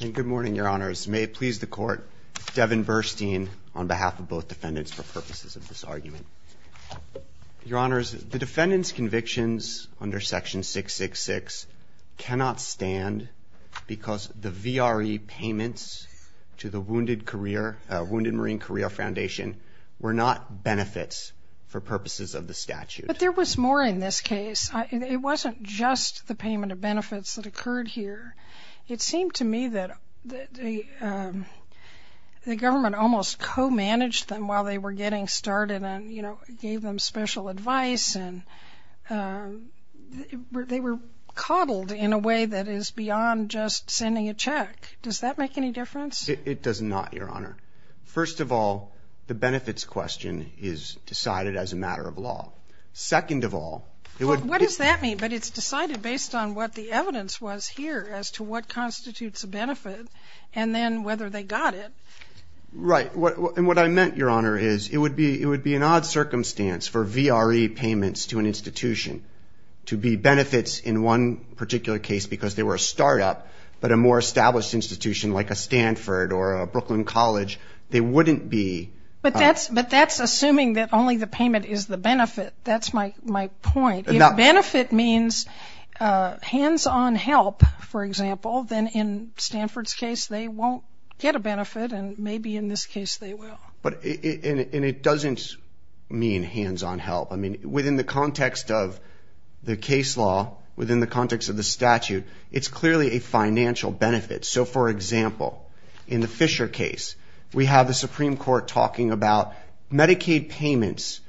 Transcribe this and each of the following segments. Good morning, your honors. May it please the court, Devin Burstein on behalf of both defendants for purposes of this argument. Your honors, the defendant's convictions under section 666 cannot stand because the VRE payments to the Wounded Marine Career Foundation were not benefits for purposes of the statute. But there was more in this case. It wasn't just the payment of benefits that occurred here. It seemed to me that the government almost co-managed them while they were getting started and, you know, gave them special advice and they were coddled in a way that is beyond just sending a check. Does that make any difference? It does not, your honor. First of all, the benefits question is decided as a matter of based on what the evidence was here as to what constitutes a benefit and then whether they got it. Right. And what I meant, your honor, is it would be it would be an odd circumstance for VRE payments to an institution to be benefits in one particular case because they were a startup, but a more established institution like a Stanford or a Brooklyn college, they wouldn't be. But that's but that's assuming that only the payment is the benefit. That's my my point. Now, benefit means hands on help, for example, then in Stanford's case, they won't get a benefit. And maybe in this case they will. But it doesn't mean hands on help. I mean, within the context of the case law, within the context of the statute, it's clearly a financial benefit. So, for example, in the Fisher case, we have the Supreme Court talking about Medicaid payments.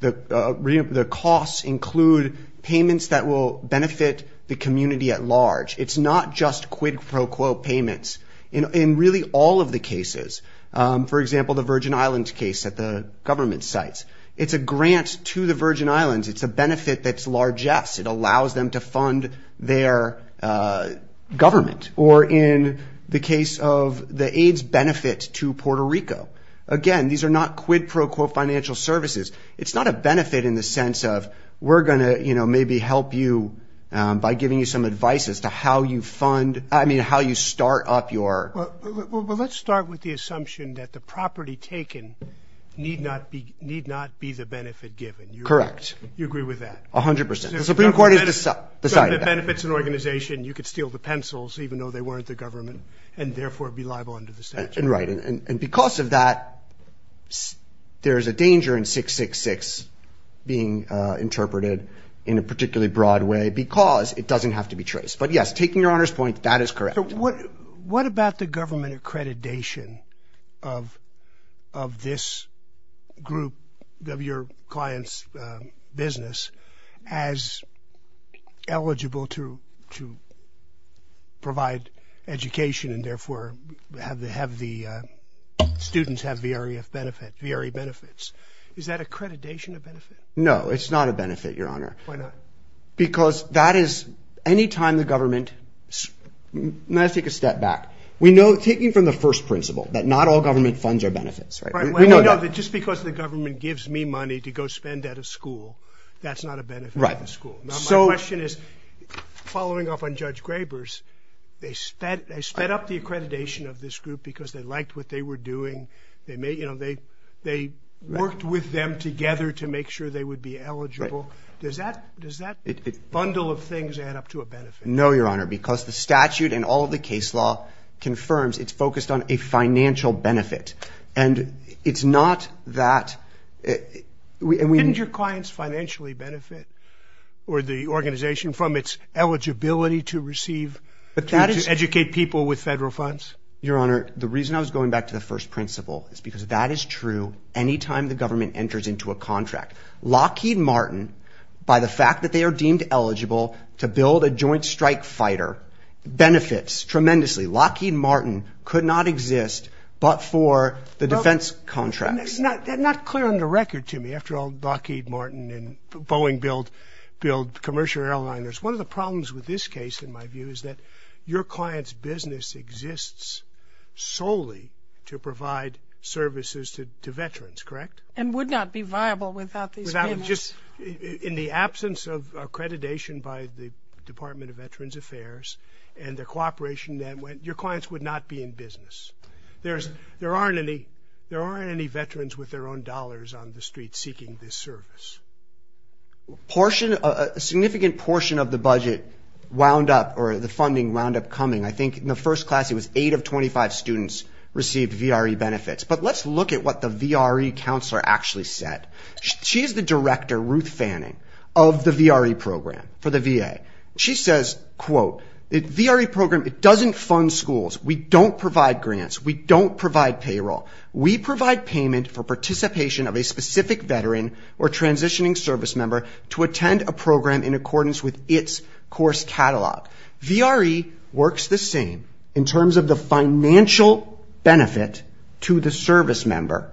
The costs include payments that will benefit the community at large. It's not just quid pro quo payments. In really all of the cases, for example, the Virgin Islands case at the government sites, it's a grant to the Virgin Islands. It's a benefit that's largesse. It allows them to fund their government. Or in the case of the AIDS benefit to Puerto Rico. Again, these are not quid pro quo financial services. It's not a benefit in the sense of we're going to maybe help you by giving you some advice as to how you fund. I mean, how you start up your. Well, let's start with the assumption that the property taken need not be need not be the benefit given. Correct. You agree with that? A hundred percent. The Supreme Court is the side that benefits an weren't the government and therefore be liable under the statute. And right. And because of that, there is a danger in 666 being interpreted in a particularly broad way because it doesn't have to be traced. But yes, taking your honor's point, that is correct. What about the government provide education and therefore have the have the students have the area of benefit very benefits? Is that accreditation of benefit? No, it's not a benefit, your honor. Why not? Because that is any time the government. Let's take a step back. We know taking from the first principle that not all government funds are benefits. We know that just because the government gives me money to go spend at a school, that's not a benefit. Right. The school. So my question is, following up on Judge Graber's, they sped, they sped up the accreditation of this group because they liked what they were doing. They may, you know, they they worked with them together to make sure they would be eligible. Does that does that bundle of things add up to a benefit? No, your honor, because the statute and all the case law confirms it's focused on a financial benefit. And it's not that we didn't your clients financially benefit or the organization from its eligibility to receive educate people with federal funds. Your honor, the reason I was going back to the first principle is because that is true. Any time the government enters into a contract, Lockheed Martin, by the fact that they are deemed eligible to build a joint strike fighter benefits tremendously. Lockheed Martin could not exist but for the defense contracts. Not clear on the record to me. After all, Lockheed Martin and Boeing build, build commercial airliners. One of the problems with this case, in my view, is that your client's business exists solely to provide services to veterans. Correct. And would not be viable without these. Without just in the absence of accreditation by the Department of Veterans Affairs and their cooperation that went, your clients would not be in business. There's there aren't any. There aren't any veterans with their own dollars on the street seeking this service. Portion, a significant portion of the budget wound up, or the funding wound up coming. I think in the first class it was eight of 25 students received VRE benefits. But let's look at what the VRE counselor actually said. She is the director, Ruth Fanning, of the VRE program for the VA. She says, quote, the VRE program, it doesn't fund schools. We don't provide grants. We don't provide payroll. We provide payment for participation of a specific veteran or transitioning service member to attend a program in accordance with its course catalog. VRE works the same in terms of the financial benefit to the service member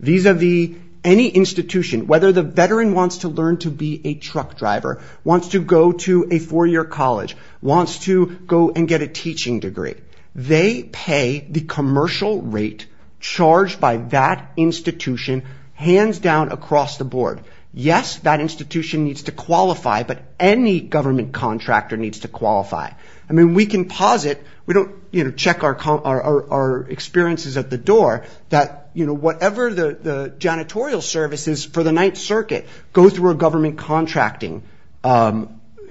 vis-a-vis any institution, whether the veteran wants to learn to be a truck driver, wants to go to a four-year college, wants to go and get a teaching degree. They pay the commercial rate charged by that institution hands down across the board. Yes, that institution needs to qualify, but any government contractor needs to qualify. We can posit, we don't check our experiences at the door, that whatever the janitorial services for the Ninth Circuit go through a government contracting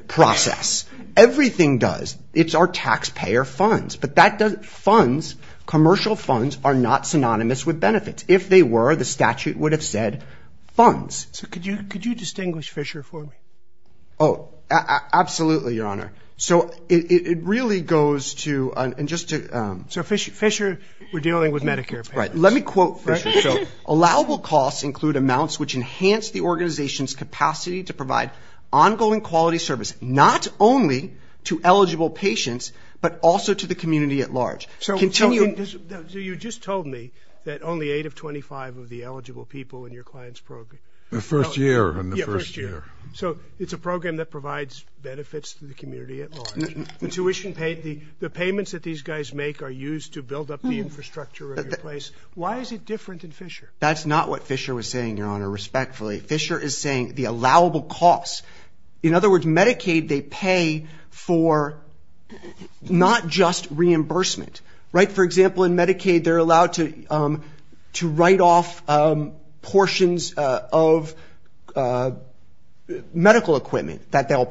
process. Everything does. It's our taxpayer funds, but that doesn't, funds, commercial funds are not synonymous with benefits. If they were, the statute would have said funds. So could you distinguish Fisher for me? Oh, absolutely, Your Honor. So it really goes to, and just to... So Fisher, we're dealing with Medicare payers. Let me quote Fisher. So allowable costs include amounts which enhance the organization's capacity to provide ongoing quality service, not only to eligible patients, but also to the community at large. So you just told me that only 8 of 25 of the eligible people in your client's program. The first year. Yeah, first year. So it's a program that provides benefits to the community at large. The tuition paid, the payments that these guys make are used to build up the infrastructure of your place. Why is it different than Fisher? That's not what Fisher was saying, Your Honor, respectfully. Fisher is saying the allowable costs. In other words, Medicaid, they pay for not just reimbursement, right? For example, in Medicaid, they're allowed to write off portions of medical equipment that they'll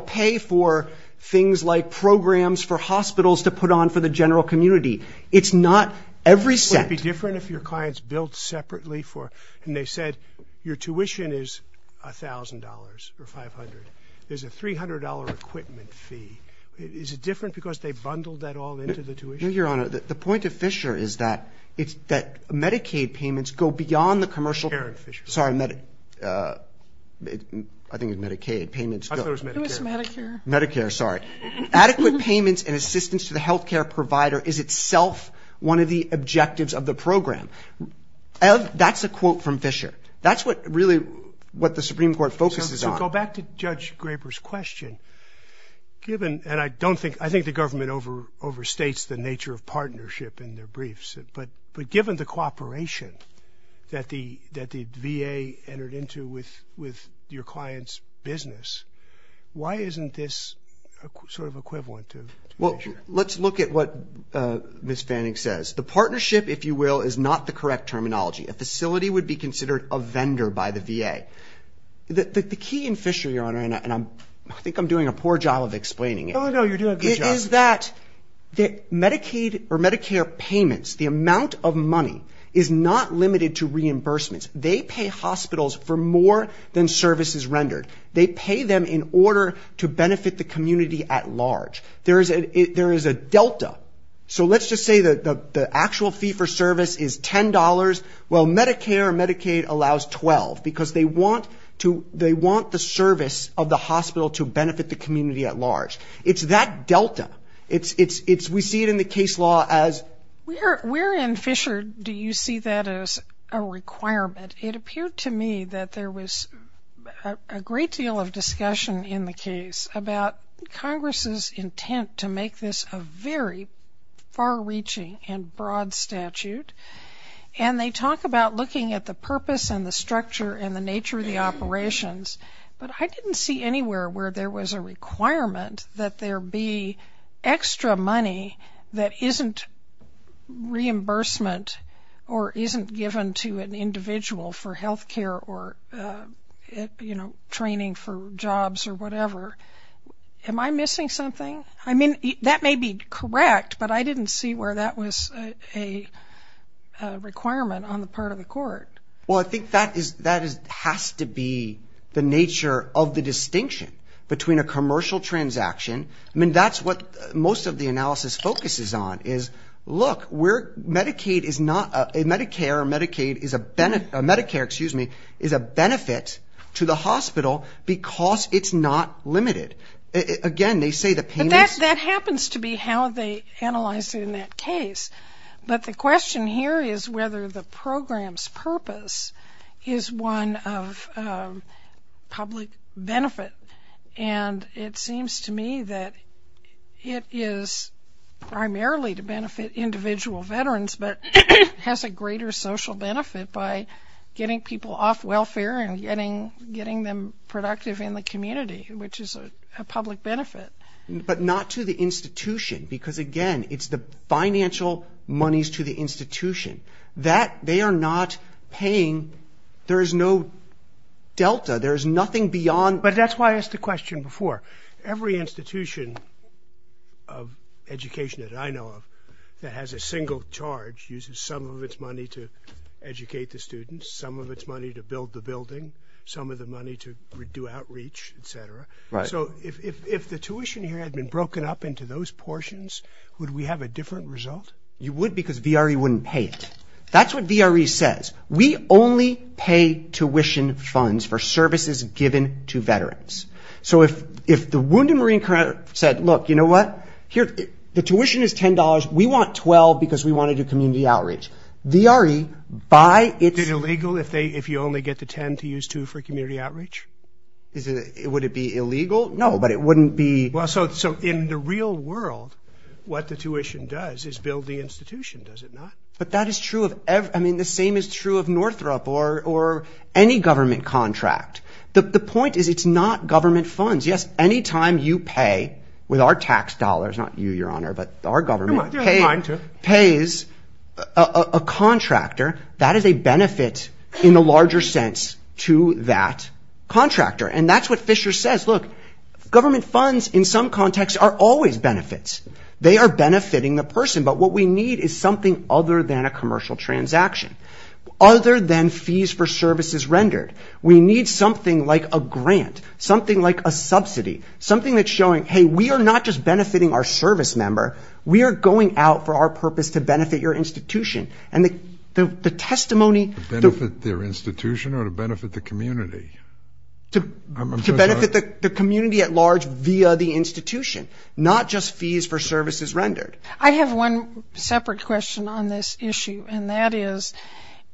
pay for things like programs for hospitals to put on for the general community. It's not every cent. Would it be different if your client's billed separately for, and they said, your tuition is $1,000 or $500. There's a $300 equipment fee. Is it different because they bundled that all into the tuition? No, Your Honor. The point of Fisher is that Medicaid payments go beyond the commercial... Aaron Fisher. Sorry, I think it was Medicaid payments. I thought it was Medicare. It was Medicare. Medicare, sorry. Adequate payments and assistance to the healthcare provider is itself one of the objectives of the program. That's a quote from Fisher. That's what really what the Supreme Court focuses on. So go back to Judge Graber's question. Given, and I think the government overstates the nature of partnership in their briefs, but given the cooperation that the VA entered into with your client's business, why isn't this sort of equivalent to Fisher? Let's look at what Ms. Fanning says. The partnership, if you will, is not the correct terminology. A facility would be considered a vendor by the VA. The key in Fisher, Your Honor, and I think I'm doing a poor job of explaining it. Oh, no, you're doing a good job. It is that Medicaid or Medicare payments, the amount of money is not limited to reimbursements. They pay hospitals for more than services rendered. They pay them in order to benefit the community at large. There is a delta. So let's just say that the actual fee for service is $10. Well, Medicare or Medicaid allows $12 because they want the service of the hospital to benefit the community at large. It's that delta. We see it in the case law as Where in Fisher do you see that as a requirement? It appeared to me that there was a great deal of discussion in the case about Congress's intent to make this a very far-reaching and broad statute, and they talk about looking at the purpose and the structure and the nature of the operations, but I didn't see anywhere where there was a requirement that there be extra money that isn't reimbursement or isn't given to an individual for health care or training for jobs or whatever. Am I missing something? I mean, that may be correct, but I didn't see where that was a requirement on the part of the court. Well, I think that has to be the nature of the distinction between a commercial transaction. I mean, that's what most of the analysis focuses on is, look, a Medicare or Medicaid is a benefit to the hospital because it's not limited. Again, they say the payment But that happens to be how they analyzed it in that case, but the question here is whether the program's purpose is one of public benefit, and it seems to me that it is primarily to benefit individual veterans but has a greater social benefit by getting people off welfare and getting them productive in the community, which is a public benefit. But not to the institution because, again, it's the financial monies to the institution. They are not paying. There is no delta. There is nothing beyond But that's why I asked the question before. Every institution of education that I know of that has a single charge uses some of its money to educate the students, some of its money to build the building, some of the money to do outreach, etc. So if the tuition here had been broken up into those portions, would we have a different result? You would because VRE wouldn't pay it. That's what VRE says. We only pay tuition funds for services given to veterans. So if the Wounded Marine Corps said, look, you know what, the tuition is $10. We want $12 because we want to do community outreach. VRE, by its Is it illegal if you only get the $10 to use $2 for community outreach? Would it be illegal? No, but it wouldn't be... So in the real world, what the tuition does is build the institution, does it not? But that is true of every... I mean, the same is true of Northrop or any government contract. The point is it's not government funds. Yes, any time you pay with our tax dollars, not you, Your Honor, but our government pays a contractor, that is a benefit in a larger sense to that contractor. And that's what Fisher says. Look, government funds in some contexts are always benefits. They are benefiting the person, but what we need is something other than a commercial transaction, other than fees for services rendered. We need something like a grant, something like a subsidy, something that's showing, hey, we are not just benefiting our service member, we are going out for our purpose to benefit your institution. And the testimony... To benefit their institution or to benefit the community? To benefit the community at large via the institution, not just fees for services rendered. I have one separate question on this issue, and that is,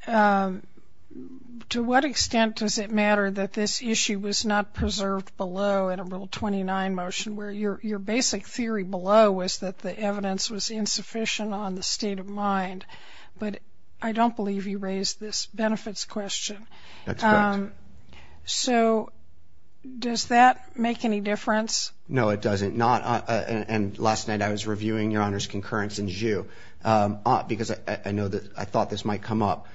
to what extent does it matter that this issue was not preserved below in a Rule 29 motion, where your basic theory below was that the evidence was insufficient on the state of mind? But I don't believe you raised this benefits question. That's correct. So does that make any difference? No, it doesn't. And last night I was reviewing Your Honor's concurrence in ZHU, because I thought this might come up.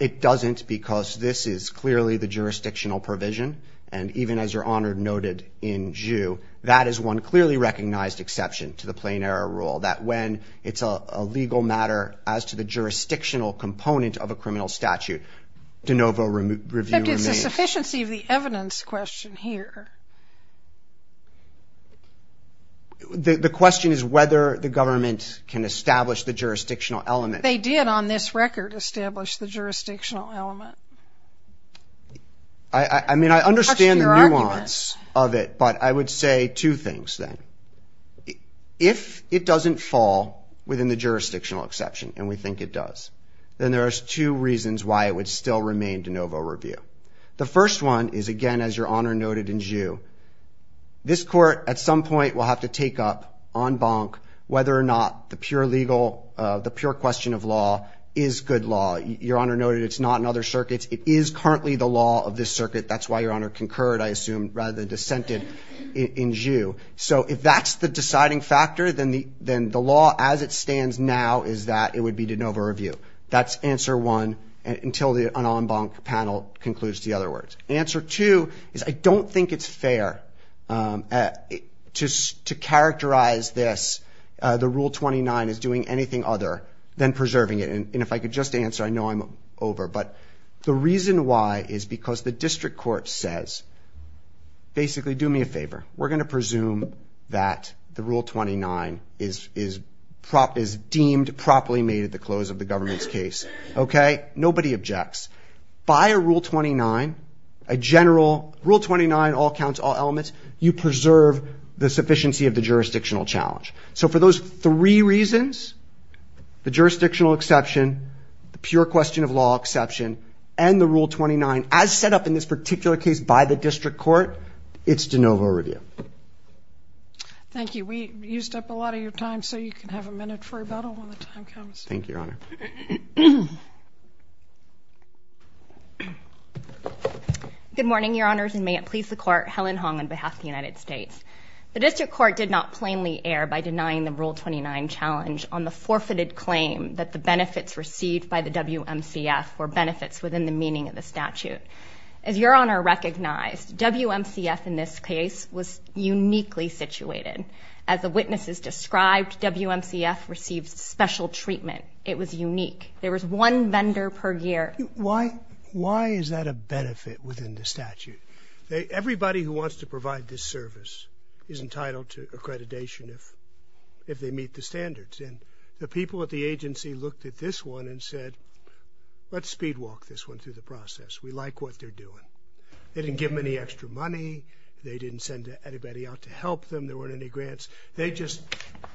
It doesn't, because this is clearly the jurisdictional provision, and even as Your Honor noted in ZHU, that is one clearly recognized exception to the Plain Error Rule, that when it's a legal matter as to the jurisdictional component of a criminal statute, de novo review remains. But it's a sufficiency of the evidence question here. The question is whether the government can establish the jurisdictional element. They did on this record establish the jurisdictional element. I mean, I understand the nuance of it, but I would say two things then. If it doesn't fall within the jurisdictional exception, and we think it does, then there are two reasons why it would still remain de novo review. The first one is, again, as Your Honor noted in ZHU, this Court at some point will have to take up en banc whether or not the pure question of law is good law. Your Honor noted it's not in other circuits. It is currently the law of this circuit. That's why Your Honor concurred, I assume, rather than dissented in ZHU. So if that's the deciding factor, then the law as it stands now is that it would be de novo review. That's answer one until the en banc panel concludes the other words. Answer two is I don't think it's fair to characterize this, the Rule 29, as doing anything other than preserving it. And if I could just answer, I know I'm over. But the reason why is because the district court says, basically, do me a favor. We're going to presume that the Rule 29 is deemed properly made at the close of the government's case. Nobody objects. By a Rule 29, a general Rule 29, all counts, all elements, you preserve the sufficiency of the jurisdictional challenge. So for those three reasons, the jurisdictional exception, the pure question of law exception, and the Rule 29 as set up in this particular case by the district court, it's de novo review. Thank you. We used up a lot of your time, so you can have a minute for rebuttal when the time comes. Thank you, Your Honor. Good morning, Your Honors, and may it please the Court, Helen Hong on behalf of the United States. The district court did not plainly err by denying the Rule 29 challenge on the forfeited claim that the benefits received by the WMCF were benefits within the meaning of the statute. As Your Honor recognized, WMCF in this case was uniquely situated. As the witnesses described, WMCF received special treatment. It was unique. There was one vendor per year. Why is that a benefit within the statute? Everybody who wants to provide this service is entitled to accreditation if they meet the standards. And the people at the agency looked at this one and said, let's speed walk this one through the process. We like what they're doing. They didn't give them any extra money. They didn't send anybody out to help them. There weren't any grants. They just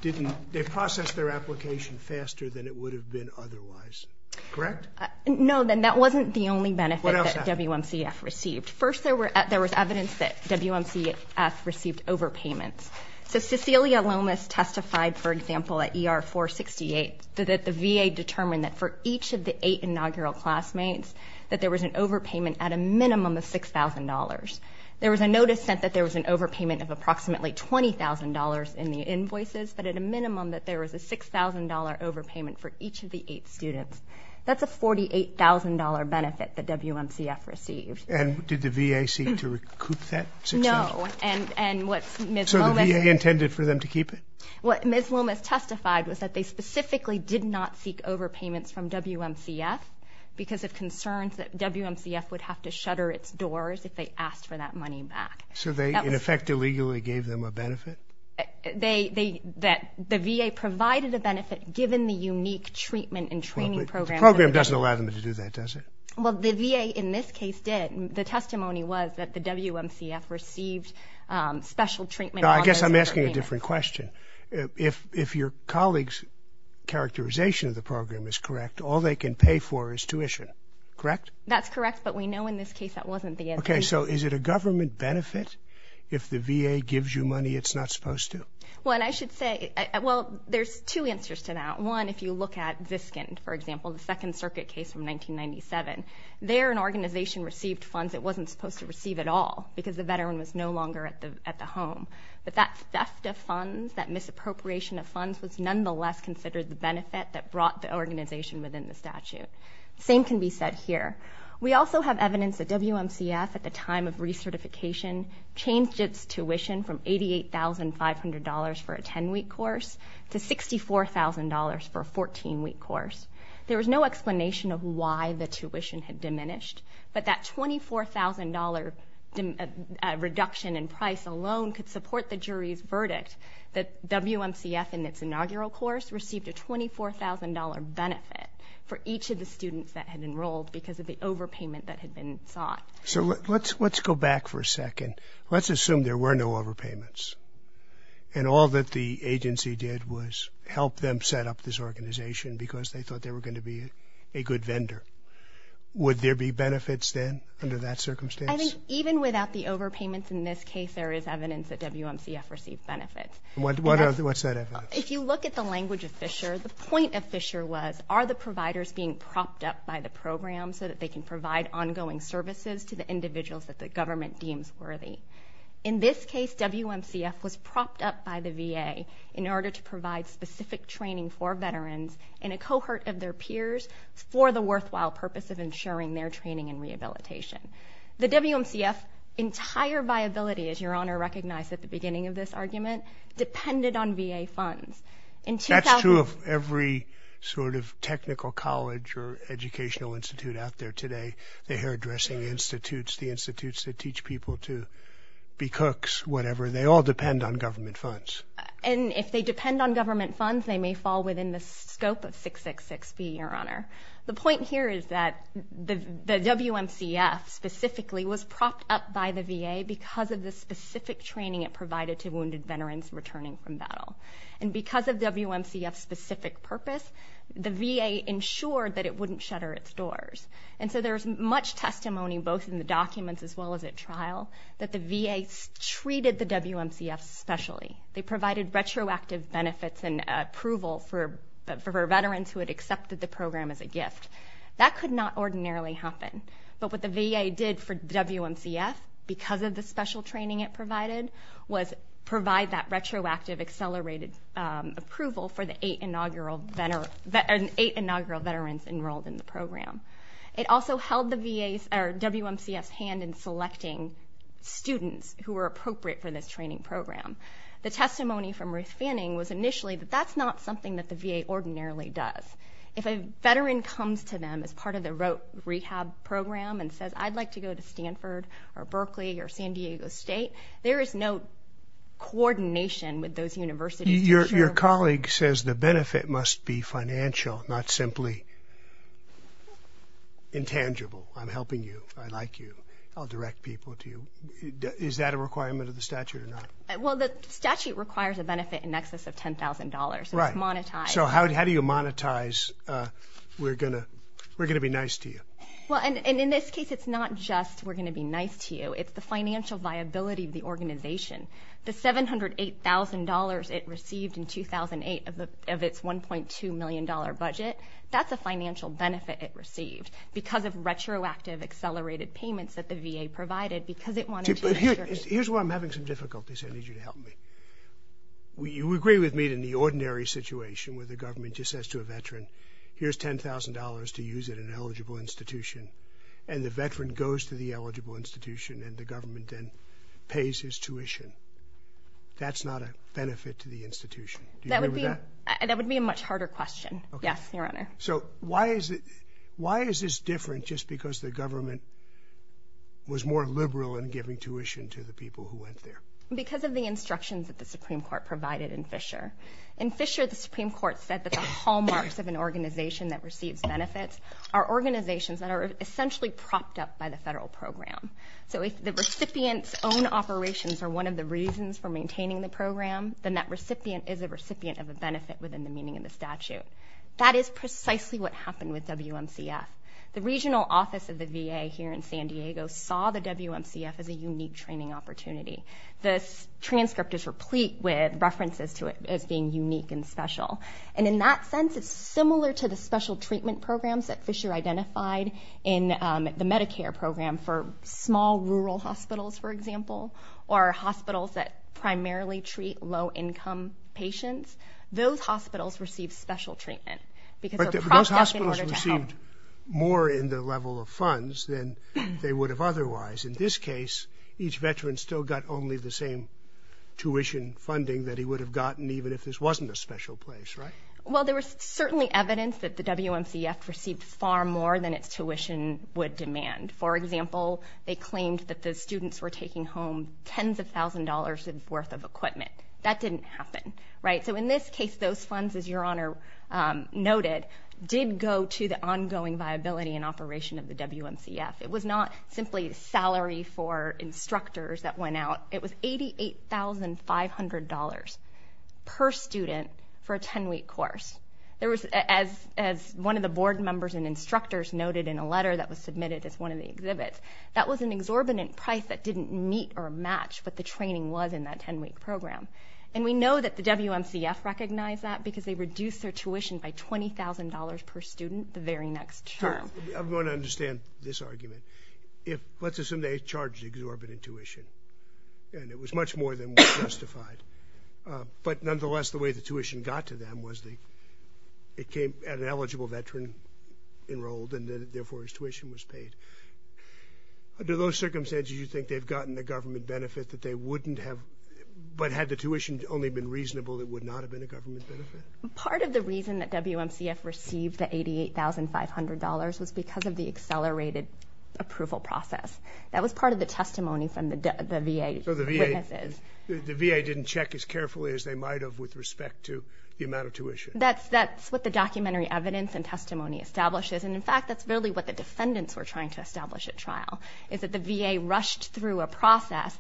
didn't they processed their application faster than it would have been otherwise. Correct? No, then that wasn't the only benefit that WMCF received. First, there was evidence that WMCF received overpayments. So Cecilia Lomas testified, for example, at ER 468 that the VA determined that for each of the eight inaugural classmates that there was an overpayment at a minimum of $6,000. There was a notice sent that there was an overpayment of approximately $20,000 in the invoices, but at a minimum that there was a $6,000 overpayment for each of the eight students. That's a $48,000 benefit that WMCF received. And did the VA seek to recoup that $6,000? No. So the VA intended for them to keep it? What Ms. Lomas testified was that they specifically did not seek overpayments from WMCF because of concerns that WMCF would have to shutter its doors if they asked for that money back. So they, in effect, illegally gave them a benefit? The VA provided a benefit given the unique treatment and training program. The program doesn't allow them to do that, does it? Well, the VA in this case did. The testimony was that the WMCF received special treatment. I guess I'm asking a different question. If your colleague's characterization of the program is correct, all they can pay for is tuition, correct? That's correct, but we know in this case that wasn't the case. Okay, so is it a government benefit if the VA gives you money it's not supposed to? Well, I should say, well, there's two answers to that. One, if you look at Viscount, for example, the Second Circuit case from 1997, there an organization received funds it wasn't supposed to receive at all because the veteran was no longer at the home. But that theft of funds, that misappropriation of funds, was nonetheless considered the benefit that brought the organization within the statute. The same can be said here. We also have evidence that WMCF, at the time of recertification, changed its tuition from $88,500 for a 10-week course to $64,000 for a 14-week course. There was no explanation of why the tuition had diminished, but that $24,000 reduction in price alone could support the jury's verdict that WMCF, in its inaugural course, received a $24,000 benefit for each of the students that had enrolled because of the overpayment that had been sought. So let's go back for a second. Let's assume there were no overpayments and all that the agency did was help them set up this organization because they thought they were going to be a good vendor. Would there be benefits then under that circumstance? I think even without the overpayments in this case, there is evidence that WMCF received benefits. What's that evidence? If you look at the language of Fisher, the point of Fisher was, are the providers being propped up by the program so that they can provide ongoing services to the individuals that the government deems worthy? In this case, WMCF was propped up by the VA in order to provide specific training for veterans and a cohort of their peers for the worthwhile purpose of ensuring their training and rehabilitation. The WMCF's entire viability, as Your Honor recognized at the beginning of this argument, depended on VA funds. That's true of every sort of technical college or educational institute out there today, the hairdressing institutes, the institutes that teach people to be cooks, whatever. They all depend on government funds. And if they depend on government funds, they may fall within the scope of 666B, Your Honor. The point here is that the WMCF specifically was propped up by the VA because of the specific training it provided to wounded veterans returning from battle. And because of WMCF's specific purpose, the VA ensured that it wouldn't shutter its doors. And so there's much testimony both in the documents as well as at trial that the VA treated the WMCF specially. They provided retroactive benefits and approval for veterans who had accepted the program as a gift. That could not ordinarily happen. But what the VA did for WMCF because of the special training it provided was provide that retroactive, accelerated approval for the eight inaugural veterans enrolled in the program. It also held the WMCF's hand in selecting students who were appropriate for this training program. The testimony from Ruth Fanning was initially that that's not something that the VA ordinarily does. If a veteran comes to them as part of the rehab program and says, I'd like to go to Stanford or Berkeley or San Diego State, there is no coordination with those universities. Your colleague says the benefit must be financial, not simply intangible. I'm helping you. I like you. I'll direct people to you. Is that a requirement of the statute or not? Well, the statute requires a benefit in excess of $10,000, so it's monetized. So how do you monetize we're going to be nice to you? In this case, it's not just we're going to be nice to you. It's the financial viability of the organization. The $708,000 it received in 2008 of its $1.2 million budget, that's a financial benefit it received because of retroactive accelerated payments that the VA provided because it wanted to insure it. Here's where I'm having some difficulties. I need you to help me. You agree with me that in the ordinary situation where the government just says to a veteran, here's $10,000 to use at an eligible institution, and the veteran goes to the eligible institution and the government then pays his tuition, that's not a benefit to the institution. Do you agree with that? That would be a much harder question. Yes, Your Honor. So why is this different just because the government was more liberal in giving tuition to the people who went there? Because of the instructions that the Supreme Court provided in Fisher. In Fisher, the Supreme Court said that the hallmarks of an organization that receives benefits are organizations that are essentially propped up by the federal program. So if the recipient's own operations are one of the reasons for maintaining the program, then that recipient is a recipient of a benefit within the meaning of the statute. That is precisely what happened with WMCF. The regional office of the VA here in San Diego saw the WMCF as a unique training opportunity. The transcript is replete with references to it as being unique and special. And in that sense, it's similar to the special treatment programs that Fisher identified in the Medicare program for small rural hospitals, for example, or hospitals that primarily treat low-income patients. Those hospitals receive special treatment because they're propped up in order to help. But those hospitals received more in the level of funds than they would have otherwise. In this case, each veteran still got only the same tuition funding that he would have gotten even if this wasn't a special place, right? Well, there was certainly evidence that the WMCF received far more than its tuition would demand. For example, they claimed that the students were taking home tens of thousands of dollars worth of equipment. That didn't happen, right? So in this case, those funds, as Your Honor noted, did go to the ongoing viability and operation of the WMCF. It was not simply salary for instructors that went out. It was $88,500 per student for a 10-week course. As one of the board members and instructors noted in a letter that was submitted as one of the exhibits, that was an exorbitant price that didn't meet or match what the training was in that 10-week program. And we know that the WMCF recognized that because they reduced their tuition by $20,000 per student the very next term. I'm going to understand this argument. Let's assume they charged exorbitant tuition, and it was much more than justified. But nonetheless, the way the tuition got to them was it came at an eligible veteran enrolled, and therefore his tuition was paid. Under those circumstances, you think they've gotten the government benefit that they wouldn't have, but had the tuition only been reasonable, it would not have been a government benefit? Part of the reason that WMCF received the $88,500 was because of the accelerated approval process. That was part of the testimony from the VA witnesses. So the VA didn't check as carefully as they might have with respect to the amount of tuition? That's what the documentary evidence and testimony establishes. And, in fact, that's really what the defendants were trying to establish at trial, is that the VA rushed through a process,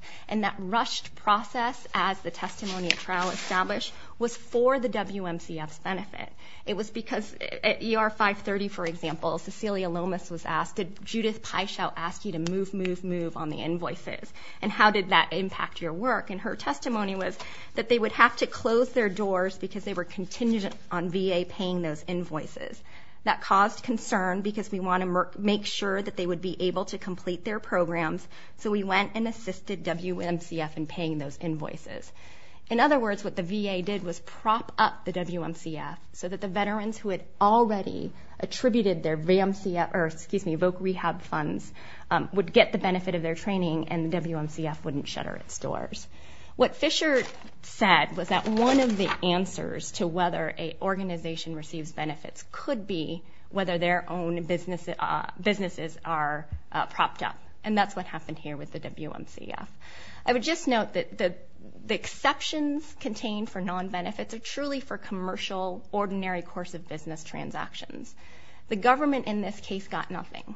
was for the WMCF's benefit. It was because at ER 530, for example, Cecilia Lomas was asked, did Judith Pyschow ask you to move, move, move on the invoices? And how did that impact your work? And her testimony was that they would have to close their doors because they were contingent on VA paying those invoices. That caused concern because we want to make sure that they would be able to complete their programs, so we went and assisted WMCF in paying those invoices. In other words, what the VA did was prop up the WMCF so that the veterans who had already attributed their voc rehab funds would get the benefit of their training and the WMCF wouldn't shutter its doors. What Fisher said was that one of the answers to whether an organization receives benefits could be whether their own businesses are propped up, and that's what happened here with the WMCF. I would just note that the exceptions contained for non-benefits are truly for commercial, ordinary course-of-business transactions. The government in this case got nothing.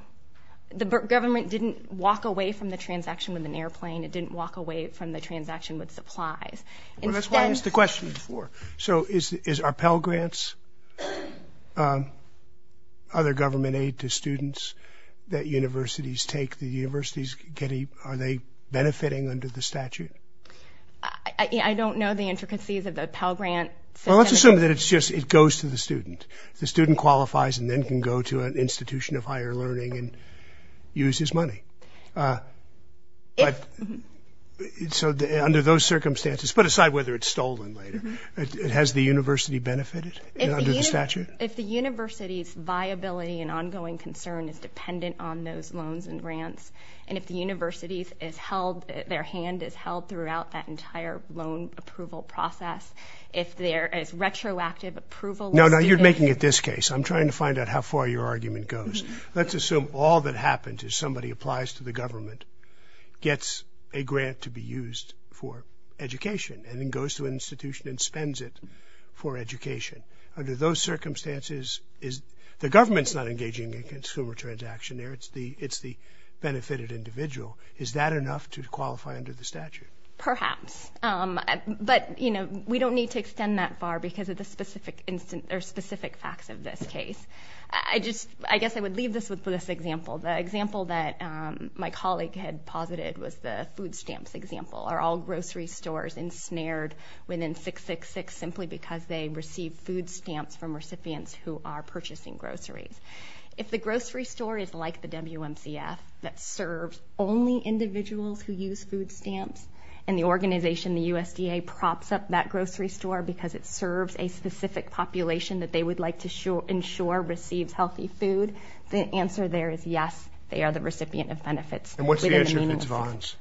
The government didn't walk away from the transaction with an airplane. It didn't walk away from the transaction with supplies. That's why I asked the question before. So is our Pell Grants other government aid to students that universities take? Are they benefiting under the statute? I don't know the intricacies of the Pell Grant. Well, let's assume that it's just it goes to the student. The student qualifies and then can go to an institution of higher learning and use his money. So under those circumstances, put aside whether it's stolen later, has the university benefited under the statute? If the university's viability and ongoing concern is dependent on those loans and grants, and if the university's is held, their hand is held throughout that entire loan approval process, if there is retroactive approval. No, no, you're making it this case. I'm trying to find out how far your argument goes. Let's assume all that happened is somebody applies to the government, gets a grant to be used for education, and then goes to an institution and spends it for education. Under those circumstances, the government's not engaging in consumer transaction there. It's the benefited individual. Is that enough to qualify under the statute? Perhaps, but we don't need to extend that far because of the specific facts of this case. I guess I would leave this with this example. The example that my colleague had posited was the food stamps example. Are all grocery stores ensnared within 666 simply because they receive food stamps from recipients who are purchasing groceries? If the grocery store is like the WMCF that serves only individuals who use food stamps, and the organization, the USDA, props up that grocery store because it serves a specific population that they would like to ensure receives healthy food, the answer there is yes, they are the recipient of benefits. And what's the answer if it's Vons?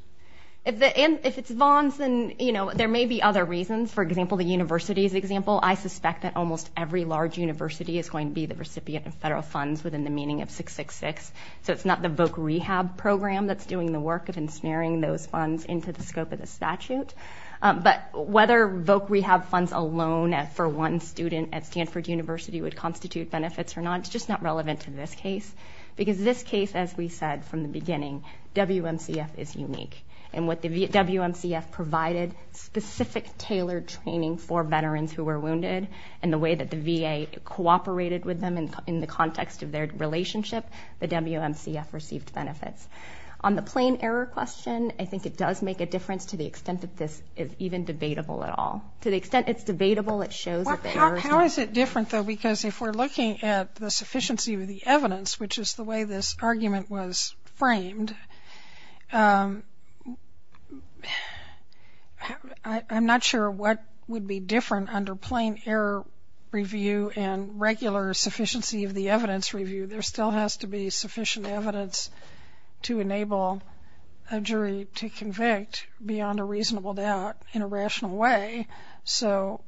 If it's Vons, then there may be other reasons. For example, the university's example, I suspect that almost every large university is going to be the recipient of federal funds within the meaning of 666, so it's not the Voc Rehab program that's doing the work of ensnaring those funds into the scope of the statute. But whether Voc Rehab funds alone for one student at Stanford University would constitute benefits or not, it's just not relevant to this case because this case, as we said from the beginning, WMCF is unique. And what the WMCF provided, specific tailored training for veterans who were wounded and the way that the VA cooperated with them in the context of their relationship, the WMCF received benefits. On the plain error question, I think it does make a difference to the extent that this is even debatable at all. To the extent it's debatable, it shows that the errors... How is it different, though, because if we're looking at the sufficiency of the evidence, which is the way this argument was framed, I'm not sure what would be different under plain error review and regular sufficiency of the evidence review. There still has to be sufficient evidence to enable a jury to convict beyond a reasonable doubt in a rational way. So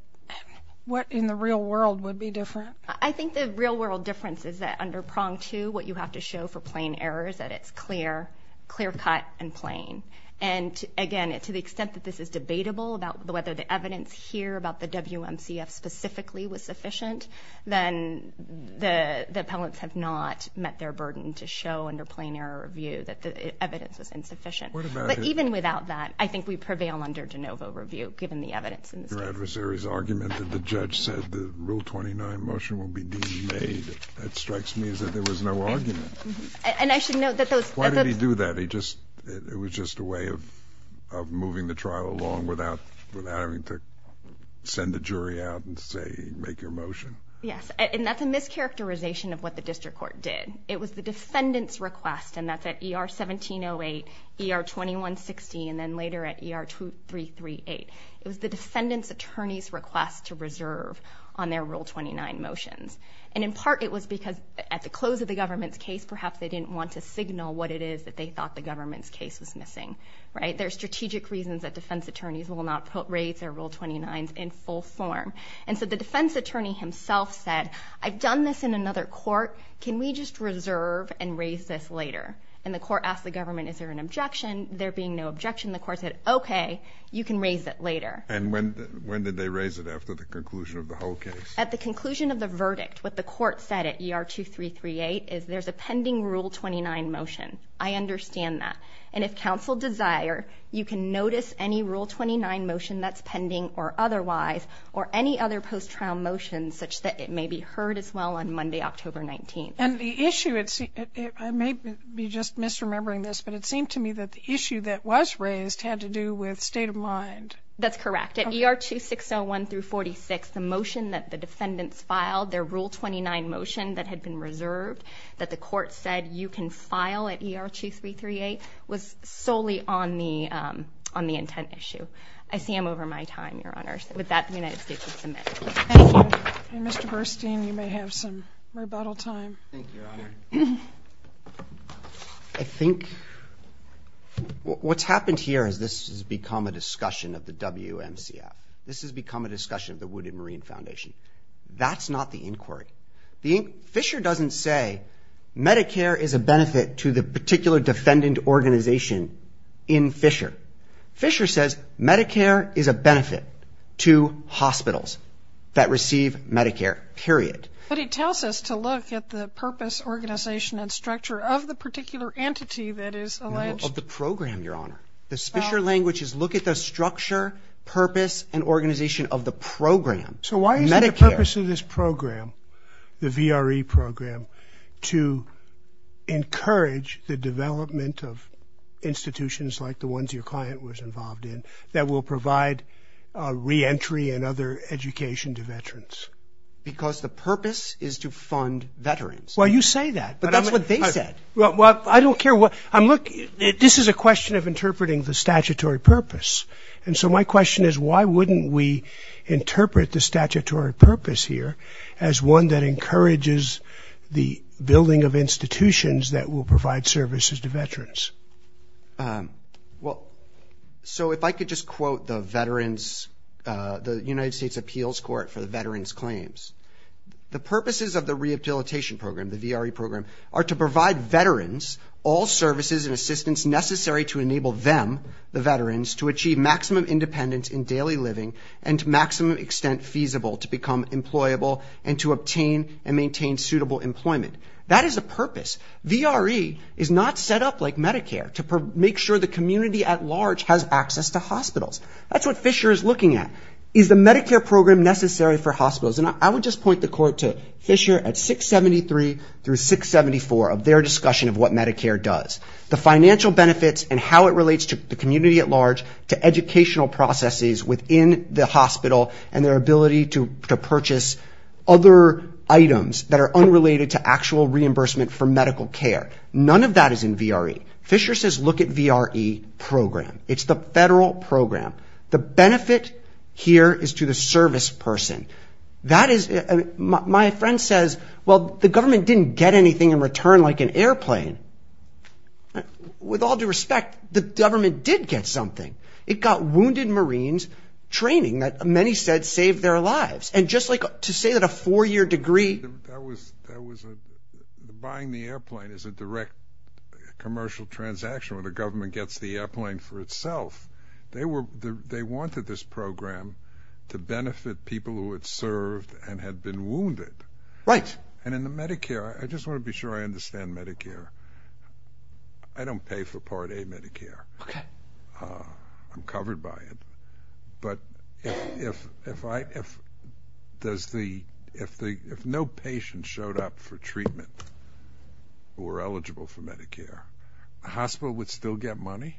what in the real world would be different? I think the real world difference is that under prong 2, what you have to show for plain error is that it's clear, clear-cut and plain. And again, to the extent that this is debatable about whether the evidence here about the WMCF specifically was sufficient, then the appellants have not met their burden to show under plain error review that the evidence was insufficient. But even without that, I think we prevail under de novo review, given the evidence in the state. Your adversary's argument that the judge said the Rule 29 motion will be demade, that strikes me as if there was no argument. And I should note that those... Why did he do that? It was just a way of moving the trial along without having to send a jury out and say, make your motion. Yes, and that's a mischaracterization of what the district court did. It was the defendant's request, and that's at ER 1708, ER 2160, and then later at ER 2338. It was the defendant's attorney's request to reserve on their Rule 29 motions. And in part, it was because at the close of the government's case, perhaps they didn't want to signal what it is that they thought the government's case was missing. There are strategic reasons that defense attorneys will not raise their Rule 29s in full form. And so the defense attorney himself said, I've done this in another court, can we just reserve and raise this later? And the court asked the government, is there an objection? There being no objection, the court said, okay, you can raise it later. And when did they raise it after the conclusion of the whole case? At the conclusion of the verdict, what the court said at ER 2338 is there's a pending Rule 29 motion. I understand that. And if counsel desire, you can notice any Rule 29 motion that's pending or otherwise or any other post-trial motions such that it may be heard as well on Monday, October 19th. And the issue, I may be just misremembering this, but it seemed to me that the issue that was raised had to do with state of mind. That's correct. At ER 2601 through 46, the motion that the defendants filed, their Rule 29 motion that had been reserved, that the court said you can file at ER 2338 was solely on the intent issue. I see I'm over my time, Your Honor. With that, the United States would submit. Thank you. And Mr. Burstein, you may have some rebuttal time. Thank you, Your Honor. I think what's happened here is this has become a discussion of the WMCA. This has become a discussion of the Wounded Marine Foundation. That's not the inquiry. Fisher doesn't say Medicare is a benefit to the particular defendant organization in Fisher. Fisher says Medicare is a benefit to hospitals that receive Medicare, period. But he tells us to look at the purpose, organization, and structure of the particular entity that is alleged. Of the program, Your Honor. The Fisher language is look at the structure, purpose, and organization of the program, Medicare. So why is it the purpose of this program, the VRE program, to encourage the development of institutions like the ones your client was involved in that will provide reentry and other education to veterans? Because the purpose is to fund veterans. Well, you say that. But that's what they said. Well, I don't care. This is a question of interpreting the statutory purpose. And so my question is, why wouldn't we interpret the statutory purpose here as one that encourages the building of institutions that will provide services to veterans? Well, so if I could just quote the veterans, the United States Appeals Court for the veterans' claims. The purposes of the rehabilitation program, the VRE program, are to provide veterans all services and assistance necessary to enable them, the veterans, to achieve maximum independence in daily living and to maximum extent feasible to become employable and to obtain and maintain suitable employment. That is a purpose. VRE is not set up like Medicare to make sure the community at large has access to hospitals. That's what Fisher is looking at. Is the Medicare program necessary for hospitals? And I would just point the court to Fisher at 673 through 674 of their discussion of what Medicare does. The financial benefits and how it relates to the community at large, to educational processes within the hospital and their ability to purchase other items that are unrelated to actual reimbursement for medical care. None of that is in VRE. Fisher says look at VRE program. It's the federal program. The benefit here is to the service person. That is, my friend says, well, the government didn't get anything in return like an airplane. With all due respect, the government did get something. It got wounded Marines training that many said saved their lives. And just like to say that a four-year degree. Buying the airplane is a direct commercial transaction where the government gets the airplane for itself. They wanted this program to benefit people who had served and had been wounded. Right. And in the Medicare, I just want to be sure I understand Medicare. I don't pay for Part A Medicare. Okay. I'm covered by it. A hospital would still get money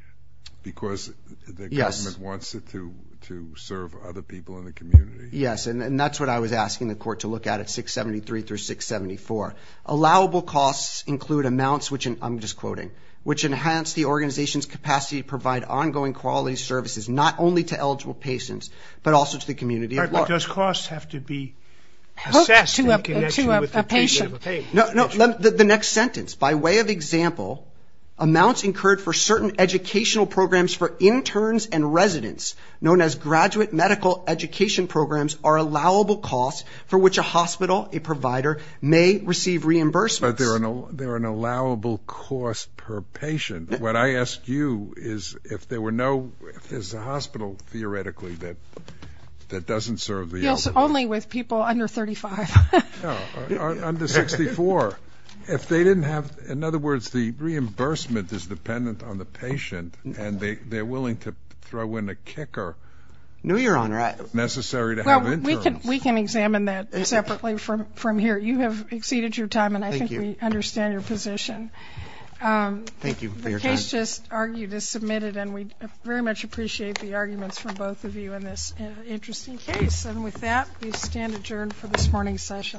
because the government wants it to serve other people in the community. Yes, and that's what I was asking the court to look at at 673 through 674. Allowable costs include amounts which, I'm just quoting, which enhance the organization's capacity to provide ongoing quality services not only to eligible patients but also to the community at large. Does costs have to be assessed in connection with the patient? The next sentence, by way of example, amounts incurred for certain educational programs for interns and residents, known as graduate medical education programs, are allowable costs for which a hospital, a provider, may receive reimbursements. But they're an allowable cost per patient. What I ask you is if there were no, if there's a hospital theoretically that doesn't serve the elderly. Yes, only with people under 35. Under 64. If they didn't have, in other words, the reimbursement is dependent on the patient and they're willing to throw in a kicker. No, Your Honor. Necessary to have interns. Well, we can examine that separately from here. You have exceeded your time and I think we understand your position. Thank you for your time. The case just argued is submitted and we very much appreciate the arguments from both of you in this interesting case. And with that, we stand adjourned for this morning's session.